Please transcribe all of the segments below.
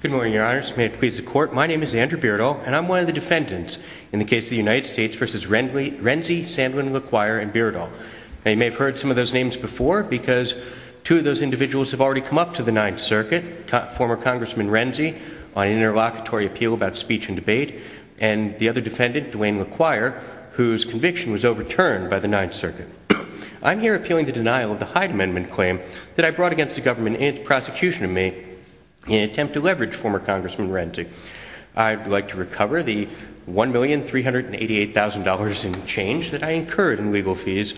Good morning, your honors. May it please the court, my name is Andrew Beardall, and I'm one of the defendants in the case of the United States v. Renzi, Sandlin, Laquire, and Beardall. Now you may have heard some of those names before because two of those individuals have already come up to the Ninth Circuit, former Congressman Renzi on an interlocutory appeal about speech and debate, and the other defendant, Duane Laquire, whose conviction was overturned by the Ninth Circuit. I'm here appealing the denial of the Hyde Amendment claim that I made in an attempt to leverage former Congressman Renzi. I'd like to recover the $1,388,000 in change that I incurred in legal fees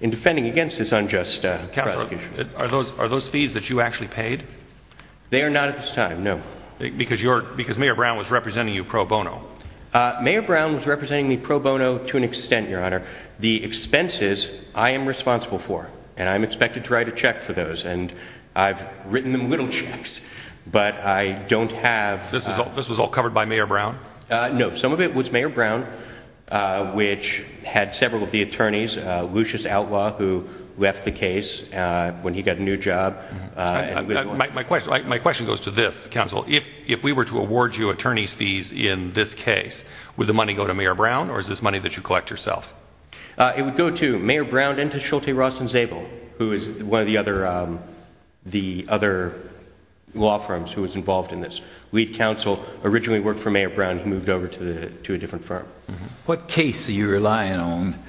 in defending against this unjust prosecution. Judge Goldberg Are those fees that you actually paid? Andrew Beardall They are not at this time, no. Judge Goldberg Because Mayor Brown was representing you pro bono. Andrew Beardall Mayor Brown was representing me pro bono to an extent, your honor. The expenses I am responsible for. And I'm expected to write a check for those. And I've written them little checks. But I don't have... Judge Goldberg This was all covered by Mayor Brown? Andrew Beardall No. Some of it was Mayor Brown, which had several of the attorneys, Lucius Outlaw, who left the case when he got a new job. Judge Goldberg My question goes to this, counsel. If we were to award you attorney's fees in this case, would the money go to Mayor Brown or is this money that you collect yourself? Andrew Beardall It would go to Mayor Brown and to Shulte Ross and Zabel, who is one of the other law firms who was involved in this. Lead counsel, originally worked for Mayor Brown, who moved over to a different firm. Judge Goldberg What case are you relying on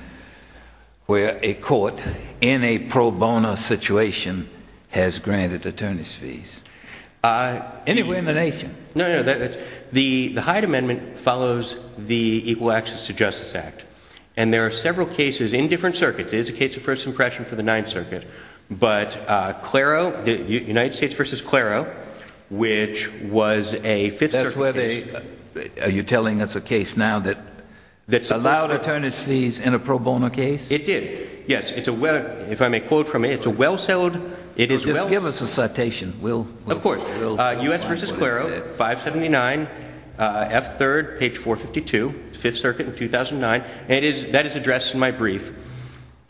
where a court in a pro bono situation has granted attorney's fees? Anywhere in the nation? Andrew Beardall No, no. The Hyde Amendment follows the Equal Access to Justice Act. And there are several cases in different circuits. It is a case of first impression for the Ninth Circuit. But United States v. Claro, which was a Fifth Circuit case. Judge Goldberg Are you telling us a case now that allowed attorney's fees in a pro bono case? Andrew Beardall It did. Yes. If I may quote from it, it's a well-settled, it is well- Judge Goldberg Just give us a citation. Andrew Beardall Of course. U.S. v. Claro, 579, F. 3rd, page 452, Fifth Circuit in 2009. That is addressed in my brief.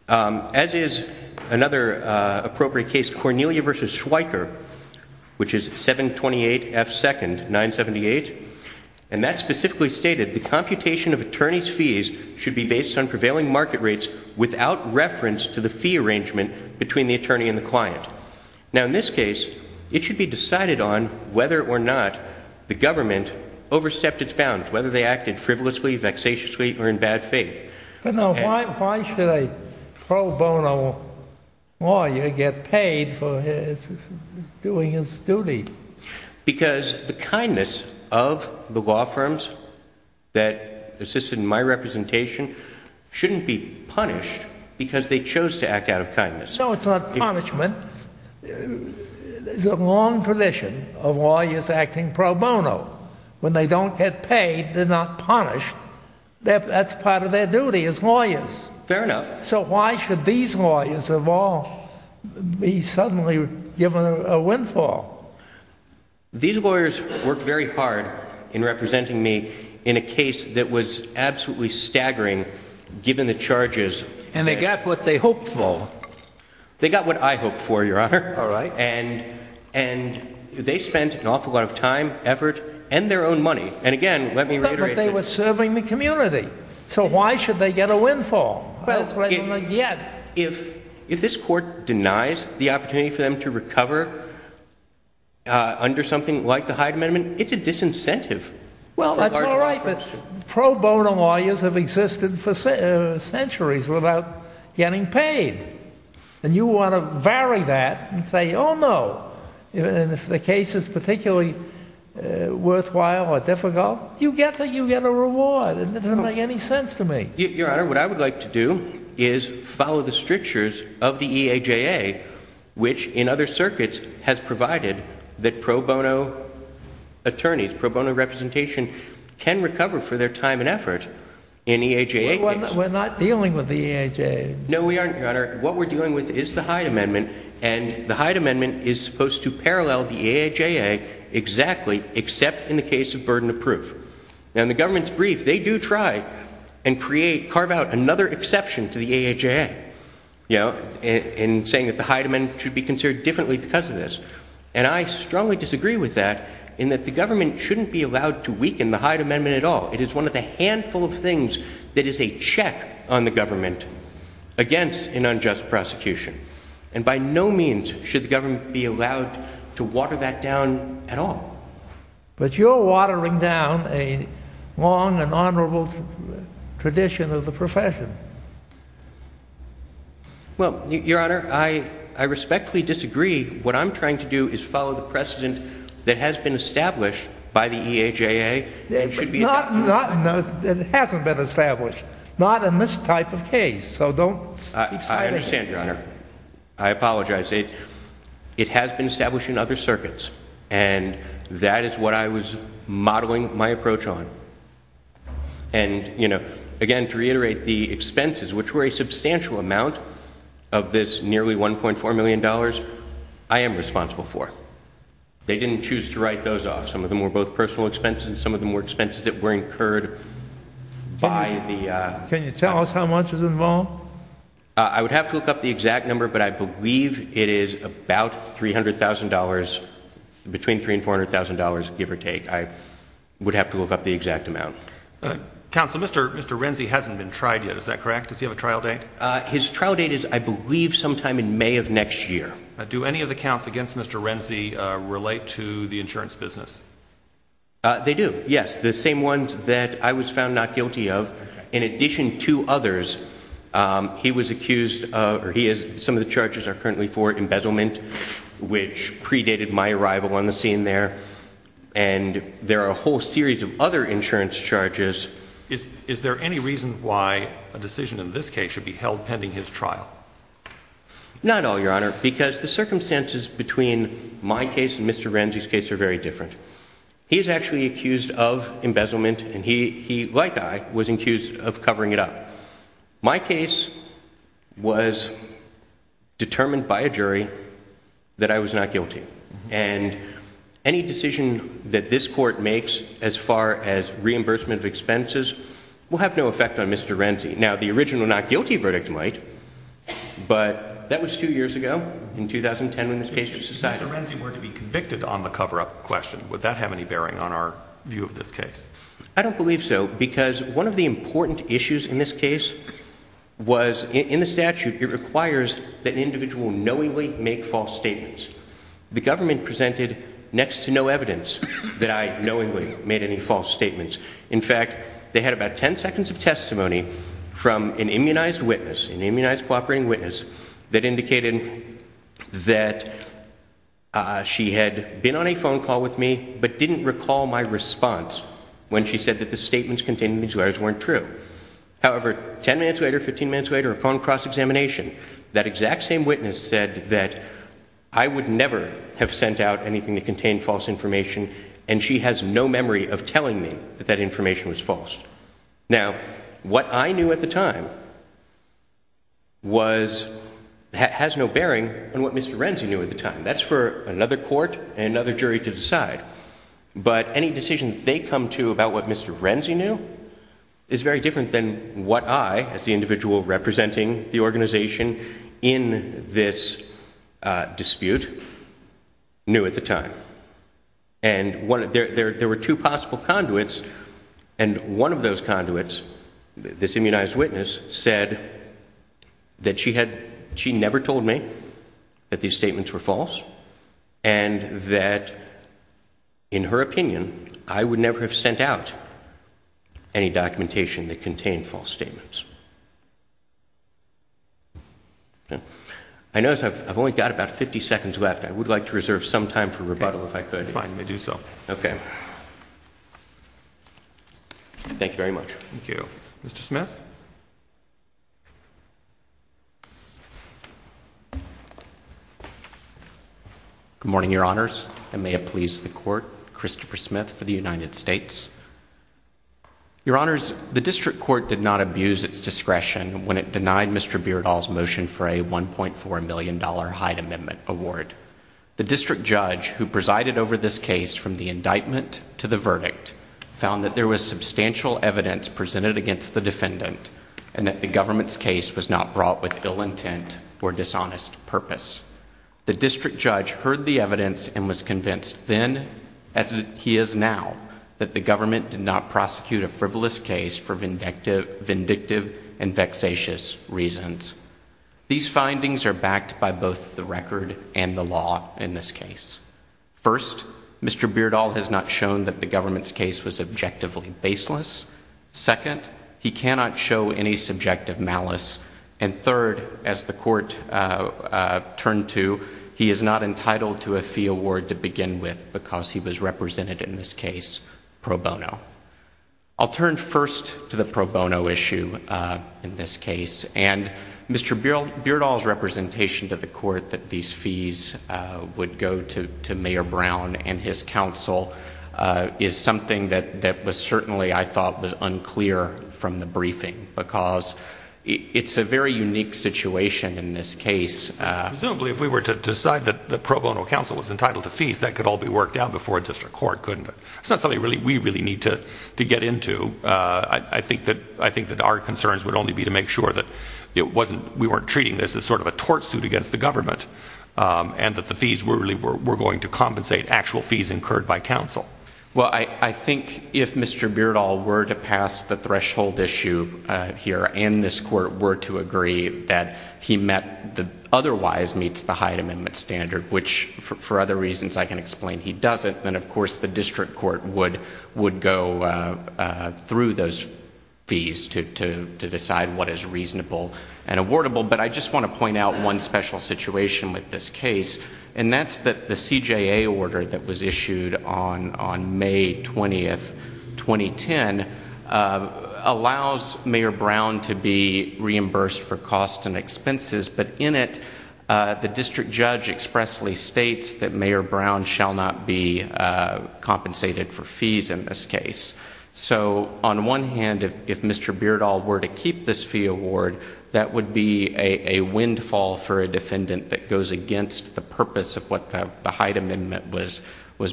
As is another appropriate case, Cornelia v. Schweiker, which is 728 F. 2nd, 978. And that specifically stated, the computation of attorney's fees should be based on prevailing market rates without reference to the fee arrangement between the attorney and the client. Now in this case, it should be decided on whether or not the government overstepped its bounds, whether they acted frivolously, vexatiously, or in bad faith. Judge Goldberg But now why should a pro bono lawyer get paid for doing his duty? Andrew Beardall Because the kindness of the law firms that assisted in my representation shouldn't be punished because they chose to act out of kindness. Judge Goldberg So it's not punishment. There's a long tradition of lawyers acting pro bono. When they don't get paid, they're not punished. That's part of their duty as lawyers. Andrew Beardall Fair enough. Judge Goldberg So why should these lawyers of all be suddenly given a windfall? Andrew Beardall These lawyers worked very hard in representing me in a case that was absolutely staggering given the charges. Judge Goldberg And they got what they hoped for. They got what I hoped for, Your Honor. Judge Goldberg All right. Andrew Beardall And they spent an awful lot of time, effort, and their own money. And again, let me reiterate Judge Goldberg But they were serving the community. So why should they get a windfall? Andrew Beardall Well, if this Court denies the opportunity for them to recover under something like the Hyde Amendment, it's a disincentive. Judge Goldberg Well, that's all right, but pro bono lawyers have existed for centuries without getting And you want to vary that and say, oh, no. And if the case is particularly worthwhile or difficult, you get a reward. It doesn't make any sense to me. Andrew Beardall Your Honor, what I would like to do is follow the strictures of the EHA, which in other circuits has provided that pro bono attorneys, pro bono representation, can recover for their time and effort in EHA cases. Judge Goldberg We're not dealing with the EHA. No, we aren't, Your Honor. What we're dealing with is the Hyde Amendment, and the Hyde Amendment is supposed to parallel the AHAA exactly, except in the case of burden of proof. And the government's brief, they do try and create, carve out another exception to the AHAA, you know, in saying that the Hyde Amendment should be considered differently because of this. And I strongly disagree with that in that the government shouldn't be allowed to weaken the Hyde Amendment at all. It is one of the handful of things that is a check on the government against an unjust prosecution. And by no means should the government be allowed to water that down at all. Andrew Beardall But you're watering down a long and honorable tradition of the profession. Judge Goldberg Well, Your Honor, I respectfully disagree. What I'm trying to do is follow the precedent that has been established by the EHAA. Andrew Beardall It hasn't been established. Not in this type of case. So don't Judge Goldberg I understand, Your Honor. I apologize. It has been established in other circuits, and that is what I was modeling my approach on. And, you know, again, to reiterate, the expenses which were a substantial amount of this nearly $1.4 million, I am responsible for. They didn't choose to write those off. Some of them were both personal expenses. Some of them were expenses that were incurred by the Andrew Beardall Can you tell us how much is involved? Judge Goldberg I would have to look up the exact number, but I believe it is about $300,000, between $300,000 and $400,000, give or take. I would have to look up the exact amount. Andrew Beardall Counsel, Mr. Renzi hasn't been tried yet. Is that correct? Does he have a trial date? Judge Goldberg His trial date is, I believe, sometime in May of next year. Andrew Beardall Do any of the counts against Mr. Renzi relate to the insurance business? Judge Goldberg They do, yes. The same ones that I was found not guilty of. In addition to others, he was accused of, or he is, some of the charges are currently for embezzlement, which predated my arrival on the scene there. And there are a whole series of other insurance charges. Andrew Beardall Is there any reason why a decision in this case should be held pending his trial? Judge Goldberg Not at all, Your Honor, because the circumstances between my case and Mr. Renzi's case are very different. He is actually accused of embezzlement, and he, like I, was accused of covering it up. My case was determined by a jury that I was not guilty. And any decision that this Court makes as far as reimbursement of expenses will have no effect on Mr. Renzi. Now, the original not guilty verdict might, but that was two years ago, in 2010, when this case was decided. Andrew Beardall If Mr. Renzi were to be convicted on the cover-up question, would that have any bearing on our view of this case? Judge Goldberg I don't believe so, because one of the important issues in this case was, in the statute, it requires that an individual knowingly make false statements. The government presented next to no evidence that I knowingly made any false statements. In fact, they had about 10 seconds of testimony from an immunized witness, an immunized cooperating witness, that indicated that she had been on a phone call with me, but didn't recall my response when she said that the statements contained in these letters weren't true. However, 10 minutes later, 15 minutes later, upon cross-examination, that exact same witness said that I would never have sent out anything that contained false information, and she has no memory of Now, what I knew at the time was, has no bearing on what Mr. Renzi knew at the time. That's for another court and another jury to decide. But any decision they come to about what Mr. Renzi knew is very different than what I, as the individual representing the organization in this dispute, knew at the time. And there were two possible conduits, and one of those conduits, this immunized witness, said that she never told me that these statements were false, and that, in her opinion, I would never have sent out any documentation that contained false statements. I notice I've only got about 50 seconds left. I would like to reserve some time for rebuttal, if I could. That's fine. I do so. Okay. Thank you very much. Thank you. Mr. Smith? Good morning, Your Honors. And may it please the Court, Christopher Smith for the United States. Your Honors, the district court did not abuse its discretion when it denied Mr. Beardall's motion for a $1.4 million Hyde Amendment award. The district judge, who presided over this case from the indictment to the verdict, found that there was substantial evidence presented against the defendant, and that the government's case was not brought with ill intent or dishonest purpose. The district judge heard the evidence and was convinced then, as he is now, that the government did not prosecute a frivolous case for vindictive and vexatious reasons. These findings are backed by both the record and the law in this case. First, Mr. Beardall has not shown that the government's case was objectively baseless. Second, he cannot show any subjective malice. And third, as the Court turned to, he is not entitled to a fee award to begin with because he was represented in this case pro bono. I'll turn first to the pro bono issue in this case and Mr. Beardall's representation to the Court that these fees would go to Mayor Brown and his council is something that was certainly, I thought, was unclear from the briefing because it's a very unique situation in this case. Presumably, if we were to decide that the pro bono council was entitled to fees, that could all be worked out before a district court, couldn't it? That's not something we really need to get into. I think that our concerns would only be to make sure that we weren't treating this as sort of a tort suit against the government and that the fees were going to compensate actual fees incurred by council. Well, I think if Mr. Beardall were to pass the threshold issue here and this Court were to agree that he otherwise meets the Hyde Amendment standard, which for other reasons I can explain he doesn't, then of course the district court would go through those and awardable, but I just want to point out one special situation with this case and that's that the CJA order that was issued on May 20, 2010, allows Mayor Brown to be reimbursed for costs and expenses, but in it the district judge expressly states that Mayor Brown shall not be compensated for fees in this case. So, on one hand, if Mr. Beardall were to keep this fee award, that would be a windfall for a defendant that goes against the purpose of what the Hyde Amendment was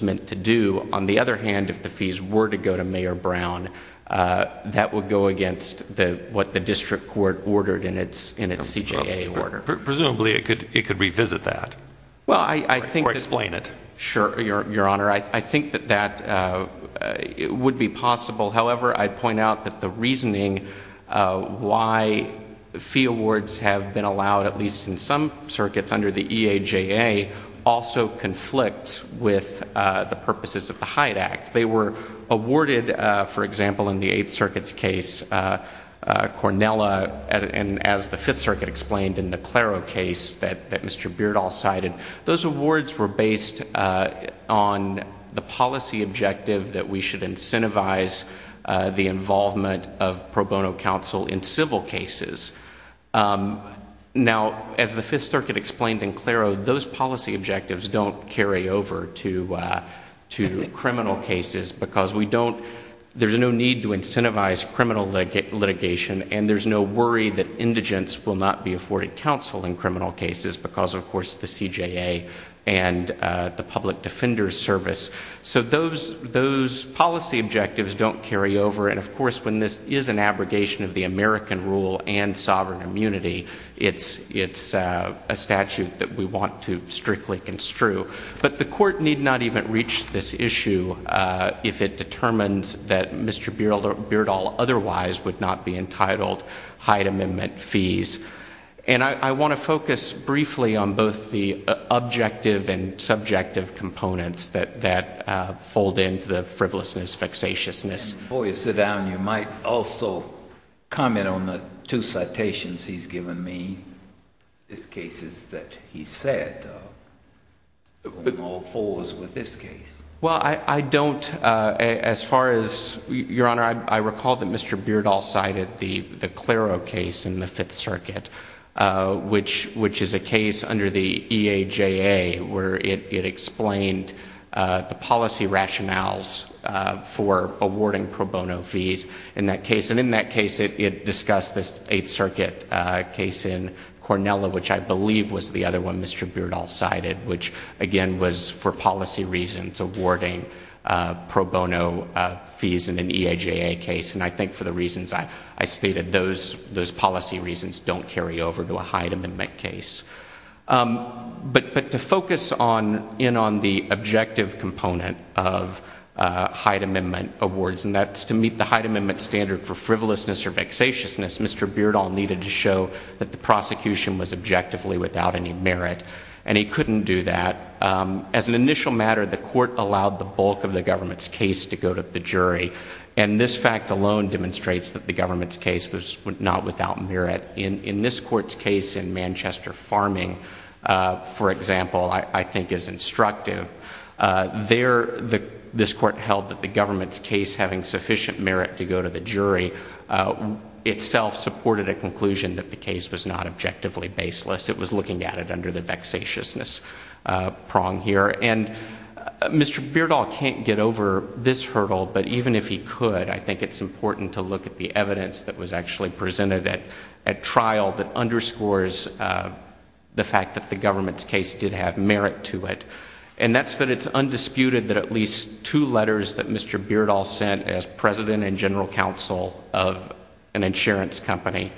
meant to do. On the other hand, if the fees were to go to Mayor Brown, that would go against what the district court ordered in its CJA order. Presumably, it could revisit that. Or explain it. Sure, Your Honor. I think that that would be possible. However, I'd point out that the reasoning why fee awards have been allowed, at least in some circuits under the EAJA, also conflicts with the purposes of the Hyde Act. They were awarded, for example, in the Eighth Circuit's case, Cornella, and as the Fifth Circuit explained in the Claro case that Mr. Beardall cited, those awards were based on the policy objective that we should incentivize the involvement of pro bono counsel in civil cases. Now, as the Fifth Circuit explained in Claro, those policy objectives don't carry over to criminal cases because we don't, there's no need to incentivize criminal litigation and there's no worry that indigents will not be afforded counsel in criminal cases because, of course, the policy objectives don't carry over and, of course, when this is an abrogation of the American rule and sovereign immunity, it's a statute that we want to strictly construe. But the court need not even reach this issue if it determines that Mr. Beardall otherwise would not be entitled Hyde Amendment fees. And I want to focus briefly on both the Before you sit down, you might also comment on the two citations he's given me, these cases that he's said, all fours with this case. Well, I don't, as far as, Your Honor, I recall that Mr. Beardall cited the Claro case in the Fifth Circuit, which is a case under the EAJA where it explained the policy rationales for awarding pro bono fees in that case. And in that case, it discussed this Eighth Circuit case in Cornella, which I believe was the other one Mr. Beardall cited, which again was for policy reasons awarding pro bono fees in an EAJA case. And I think for the reasons I stated, those policy reasons don't carry over to a Hyde Amendment case. But to focus in on the objective component of Hyde Amendment awards, and that's to meet the Hyde Amendment standard for frivolousness or vexatiousness, Mr. Beardall needed to show that the prosecution was objectively without any merit, and he couldn't do that. As an initial matter, the court allowed the bulk of the government's case to go to the jury, and this fact alone demonstrates that the government's case was not without merit. In this court's case in Manchester Farming, for example, I think is instructive. There this court held that the government's case having sufficient merit to go to the jury itself supported a conclusion that the case was not objectively baseless. It was looking at it under the vexatiousness prong here. And Mr. Beardall can't get over this hurdle, but even if he could, I think it's important to look at the evidence that was actually presented at trial that underscores the fact that the government's case did have merit to it. And that's that it's undisputed that at least two letters that Mr. Beardall sent as president and general counsel of an insurance company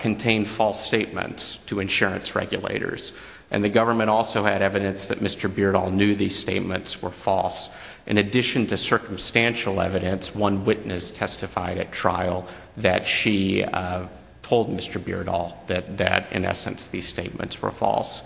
contained false statements to insurance regulators. And the government also had evidence that Mr. Beardall knew these statements were false. In addition to circumstantial evidence, one witness testified at trial that she, uh, told Mr. Beardall that in essence these statements were false.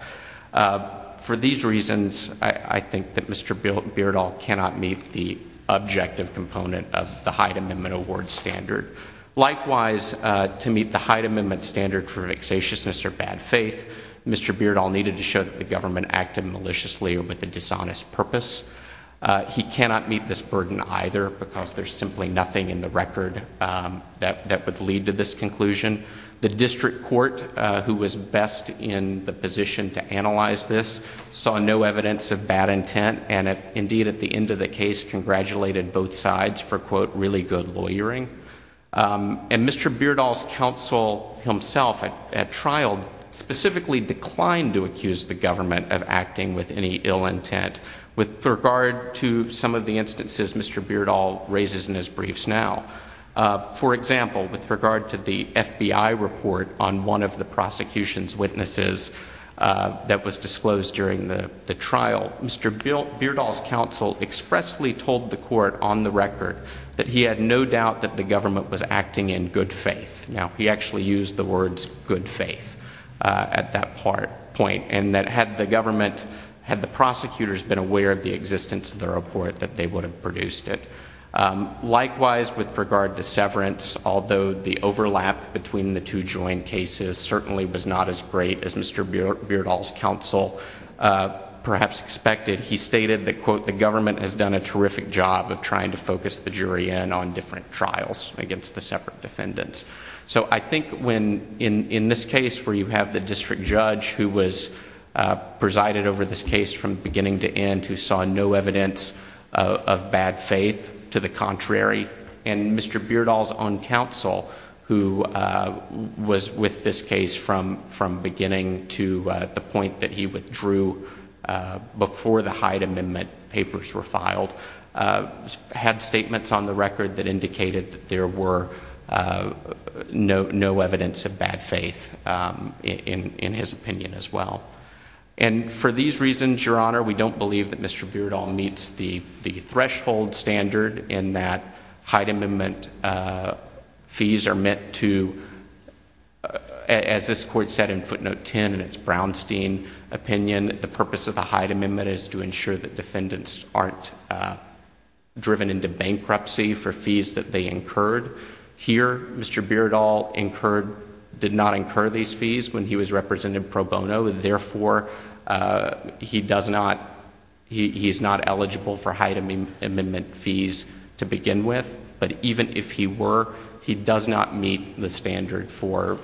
For these reasons, I think that Mr. Beardall cannot meet the objective component of the Hyde Amendment award standard. Likewise, to meet the Hyde Amendment standard for vexatiousness or bad faith, Mr. Beardall needed to show that the government acted maliciously or with a dishonest purpose. He cannot meet this burden either because there's simply nothing in the record that would lead to this conclusion. The district court, who was best in the position to analyze this, saw no evidence of bad intent and indeed at the end of the case congratulated both sides for, quote, really good lawyering. And Mr. Beardall's counsel himself at trial specifically declined to accuse the government of acting with any ill intent. With regard to some of the instances Mr. Beardall raises in his briefs now, for example, with regard to the FBI report on one of the prosecution's witnesses that was disclosed during the trial, Mr. Beardall's counsel expressly told the court on the record that he had no doubt that the government was acting in good faith. Now, he actually used the words good faith at that point and that had the government, had the prosecutors been aware of the existence of the report that they would have produced it. Likewise, with regard to severance, although the overlap between the two joint cases certainly was not as great as Mr. Beardall's counsel perhaps expected, he stated that, quote, the government has done a terrific job of trying to focus the jury in on different trials against the separate defendants. So I think when in this case where you have the district judge who was presided over this case from beginning to end, who saw no evidence of bad faith, to the contrary, and Mr. Beardall's own counsel who was with this case from beginning to the point that he withdrew before the Hyde Amendment papers were filed, had statements on the record that indicated that there were no evidence of bad faith in his opinion as well. And for these reasons, Your Honor, we don't believe that Mr. Beardall meets the threshold standard in that Hyde Amendment fees are meant to, as this court said in footnote 10 in its Brownstein opinion, the purpose of the Hyde Amendment is to ensure that defendants aren't driven into bankruptcy for fees that they incurred. Here, Mr. Beardall incurred, did not incur these fees when he was represented pro bono. Therefore, he does not, he is not eligible for Hyde Amendment fees to begin with. But even if he were, he does not meet the standard for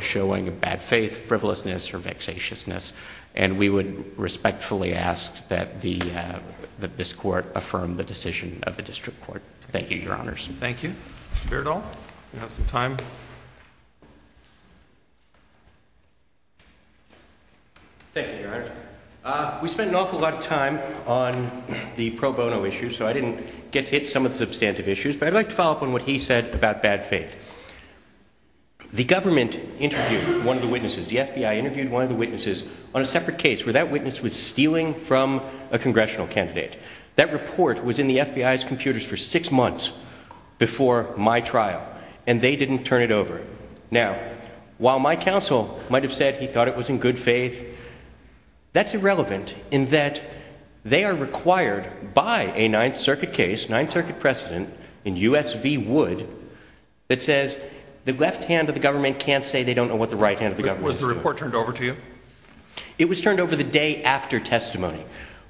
showing bad faith, frivolousness, or vexatiousness. And we would respectfully ask that this court affirm the decision of the district court. Thank you, Your Honors. Thank you. Mr. Beardall, you have some time. Thank you, Your Honor. We spent an awful lot of time on the pro bono issue, so I didn't get to hit some of the substantive issues, but I'd like to follow up on what he said about bad faith. The government interviewed one of the witnesses, the FBI interviewed one of the witnesses on a separate case where that witness was stealing from a congressional candidate. That report was in the FBI's computers for six months before my trial, and they didn't turn it over. Now, while my counsel might have said he thought it was in good faith, that's irrelevant in that they are required by a Ninth Circuit case, Ninth Circuit precedent in U.S. v. Wood, that says the left hand of the government can't say they don't know what the right hand of the government is doing. Was the report turned over to you? It was turned over the day after testimony,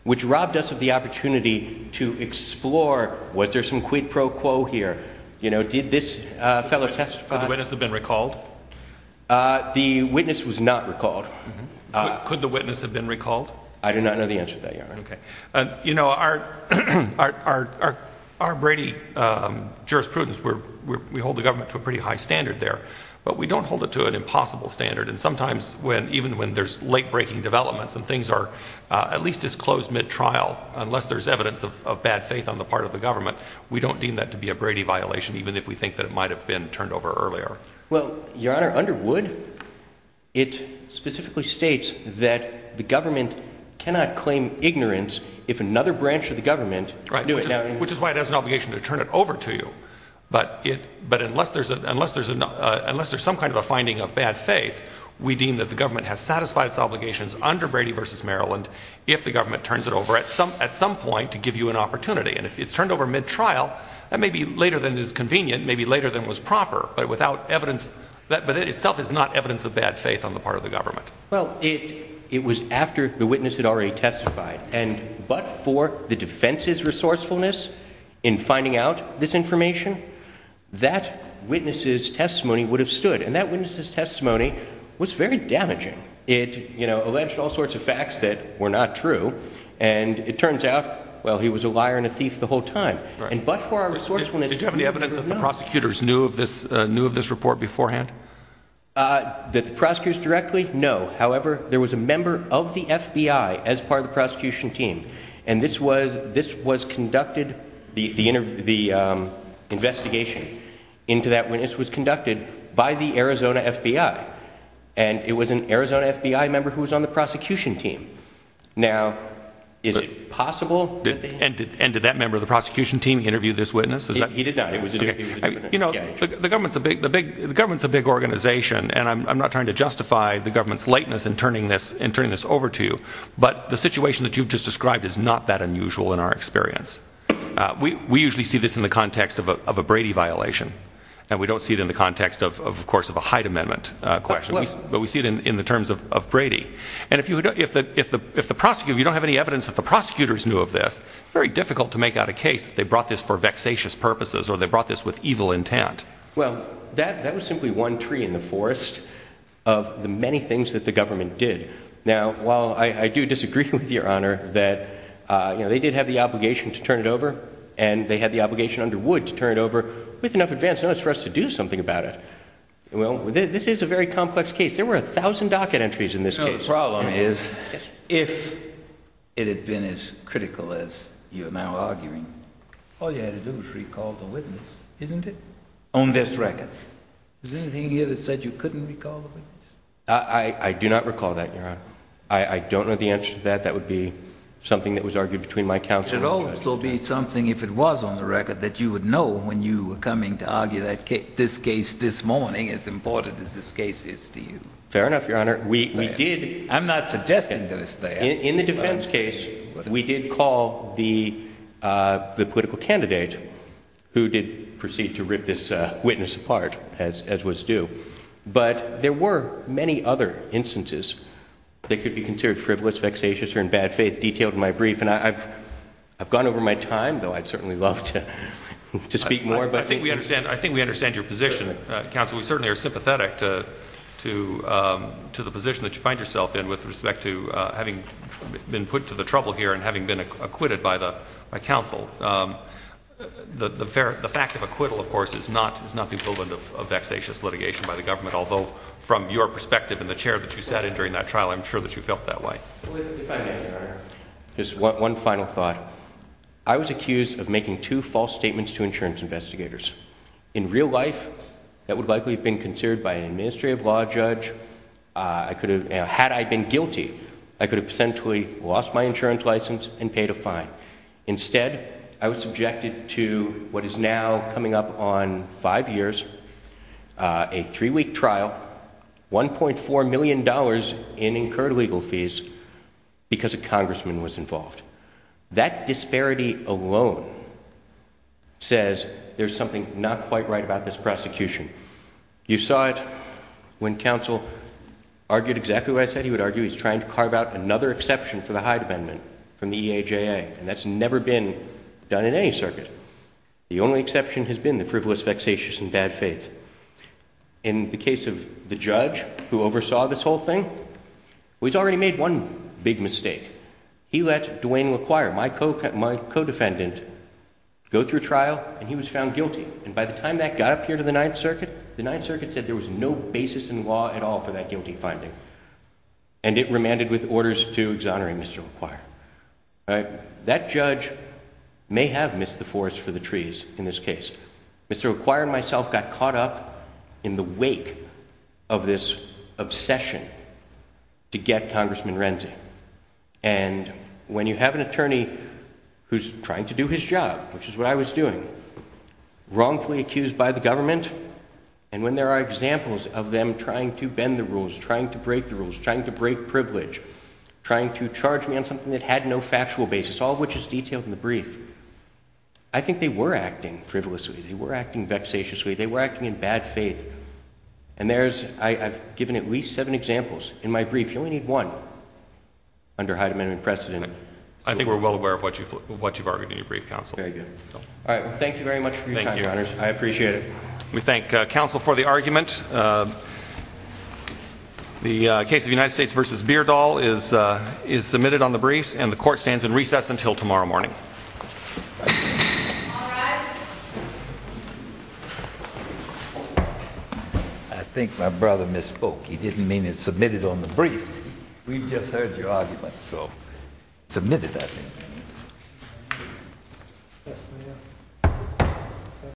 which robbed us of the opportunity to explore was there some quid pro quo here? Did this fellow testify? Could the witness have been recalled? The witness was not recalled. Could the witness have been recalled? I do not know the answer to that, Your Honor. Our Brady jurisprudence, we hold the government to a pretty high standard there, but we don't hold it to an impossible standard, and sometimes even when there's late-breaking developments and things are at least disclosed mid-trial, unless there's evidence of bad faith on the part of the government, we don't deem that to be a Brady violation, even if we think that it might have been turned over earlier. Well, Your Honor, under Wood, it specifically states that the government cannot claim ignorance if another branch of the government knew it. Right, which is why it has an obligation to turn it over to you. But unless there's some kind of a finding of bad faith, we deem that the government has satisfied its obligations under Brady v. Maryland if the government turns it over at some point to give you an opportunity. And if it's turned over mid-trial, that may be later than is convenient, may be later than was proper, but it itself is not evidence of bad faith on the part of the government. Well, it was after the witness had already testified. And but for the defense's resourcefulness in finding out this information, that witness's testimony would have stood. And that witness's testimony was very damaging. It, you know, alleged all sorts of facts that were not true. And it turns out, well, he was a liar and a thief the whole time. And but for our resourcefulness… Did you have any evidence that the prosecutors knew of this report beforehand? That the prosecutors directly? No. No. However, there was a member of the FBI as part of the prosecution team. And this was, this was conducted, the, the investigation into that witness was conducted by the Arizona FBI. And it was an Arizona FBI member who was on the prosecution team. Now, is it possible that they… And did that member of the prosecution team interview this witness? He did not. You know, the government's a big, the big, the government's a big organization. And I'm, I'm not trying to justify the government's lateness in turning this, in turning this over to you. But the situation that you've just described is not that unusual in our experience. We, we usually see this in the context of a, of a Brady violation. And we don't see it in the context of, of course, of a Hyde Amendment question. But we see it in, in the terms of, of Brady. And if you, if the, if the, if the prosecutor, you don't have any evidence that the prosecutors knew of this, it's very difficult to make out a case that they brought this for vexatious purposes or they brought this with evil intent. Well, that, that was simply one tree in the forest of the many things that the government did. Now, while I, I do disagree with Your Honor that, you know, they did have the obligation to turn it over and they had the obligation under Wood to turn it over with enough advance notice for us to do something about it. Well, this is a very complex case. There were a thousand docket entries in this case. No, the problem is, if it had been as critical as you are now arguing, all you had to do was recall the witness, isn't it? On this record. Is there anything here that said you couldn't recall the witness? I, I, I do not recall that, Your Honor. I, I don't know the answer to that. That would be something that was argued between my counsel and the judge. It would also be something, if it was on the record, that you would know when you were coming to argue that case, this case this morning, as important as this case is to you. Fair enough, Your Honor. We, we did. I'm not suggesting that it's there. In the defense case, we did call the, the political candidate who did proceed to rip this witness apart, as, as was due. But there were many other instances that could be considered frivolous, vexatious, or in bad faith, detailed in my brief. And I've, I've gone over my time, though I'd certainly love to, to speak more. I think we understand, I think we understand your position, counsel. We certainly are sympathetic to, to, to the position that you find yourself in with respect to having been put to the trouble here and having been acquitted by the, by counsel. The, the, the fact of acquittal, of course, is not, is not the equivalent of, of vexatious litigation by the government. Although, from your perspective and the chair that you sat in during that trial, I'm sure that you felt that way. If I may, Your Honor, just one, one final thought. I was accused of making two false statements to insurance investigators. In real life, that would likely have been considered by an administrative law judge. I could have, had I been guilty, I could have potentially lost my insurance license and paid a fine. Instead, I was subjected to what is now coming up on five years, a three-week trial, $1.4 million in incurred legal fees because a congressman was involved. That disparity alone says there's something not quite right about this prosecution. You saw it when counsel argued exactly what I said. He would argue he's trying to carve out another exception for the Hyde Amendment from the EAJA, and that's never been done in any circuit. The only exception has been the frivolous, vexatious, and bad faith. In the case of the judge who oversaw this whole thing, well, he's already made one big mistake. He let Duane LaQuire, my co-defendant, go through trial, and he was found guilty. And by the time that got up here to the Ninth Circuit, the Ninth Circuit said there was no basis in law at all for that guilty finding. And it remanded with orders to exonerate Mr. LaQuire. That judge may have missed the forest for the trees in this case. Mr. LaQuire and myself got caught up in the wake of this obsession to get Congressman Renzi. And when you have an attorney who's trying to do his job, which is what I was doing, wrongfully accused by the government, and when there are examples of them trying to bend the rules, trying to break the rules, trying to break privilege, trying to charge me on something that had no factual basis, all of which is detailed in the brief, I think they were acting frivolously. They were acting vexatiously. They were acting in bad faith. And I've given at least seven examples. In my brief, you only need one under high amendment precedent. I think we're well aware of what you've argued in your brief, Counsel. All right. Well, thank you very much for your time, Your Honors. I appreciate it. We thank Counsel for the argument. The case of United States v. Beardall is submitted on the briefs, and the court stands in recess until tomorrow morning. All rise. I think my brother misspoke. He didn't mean it submitted on the briefs. We've just heard your argument, so submitted, I think.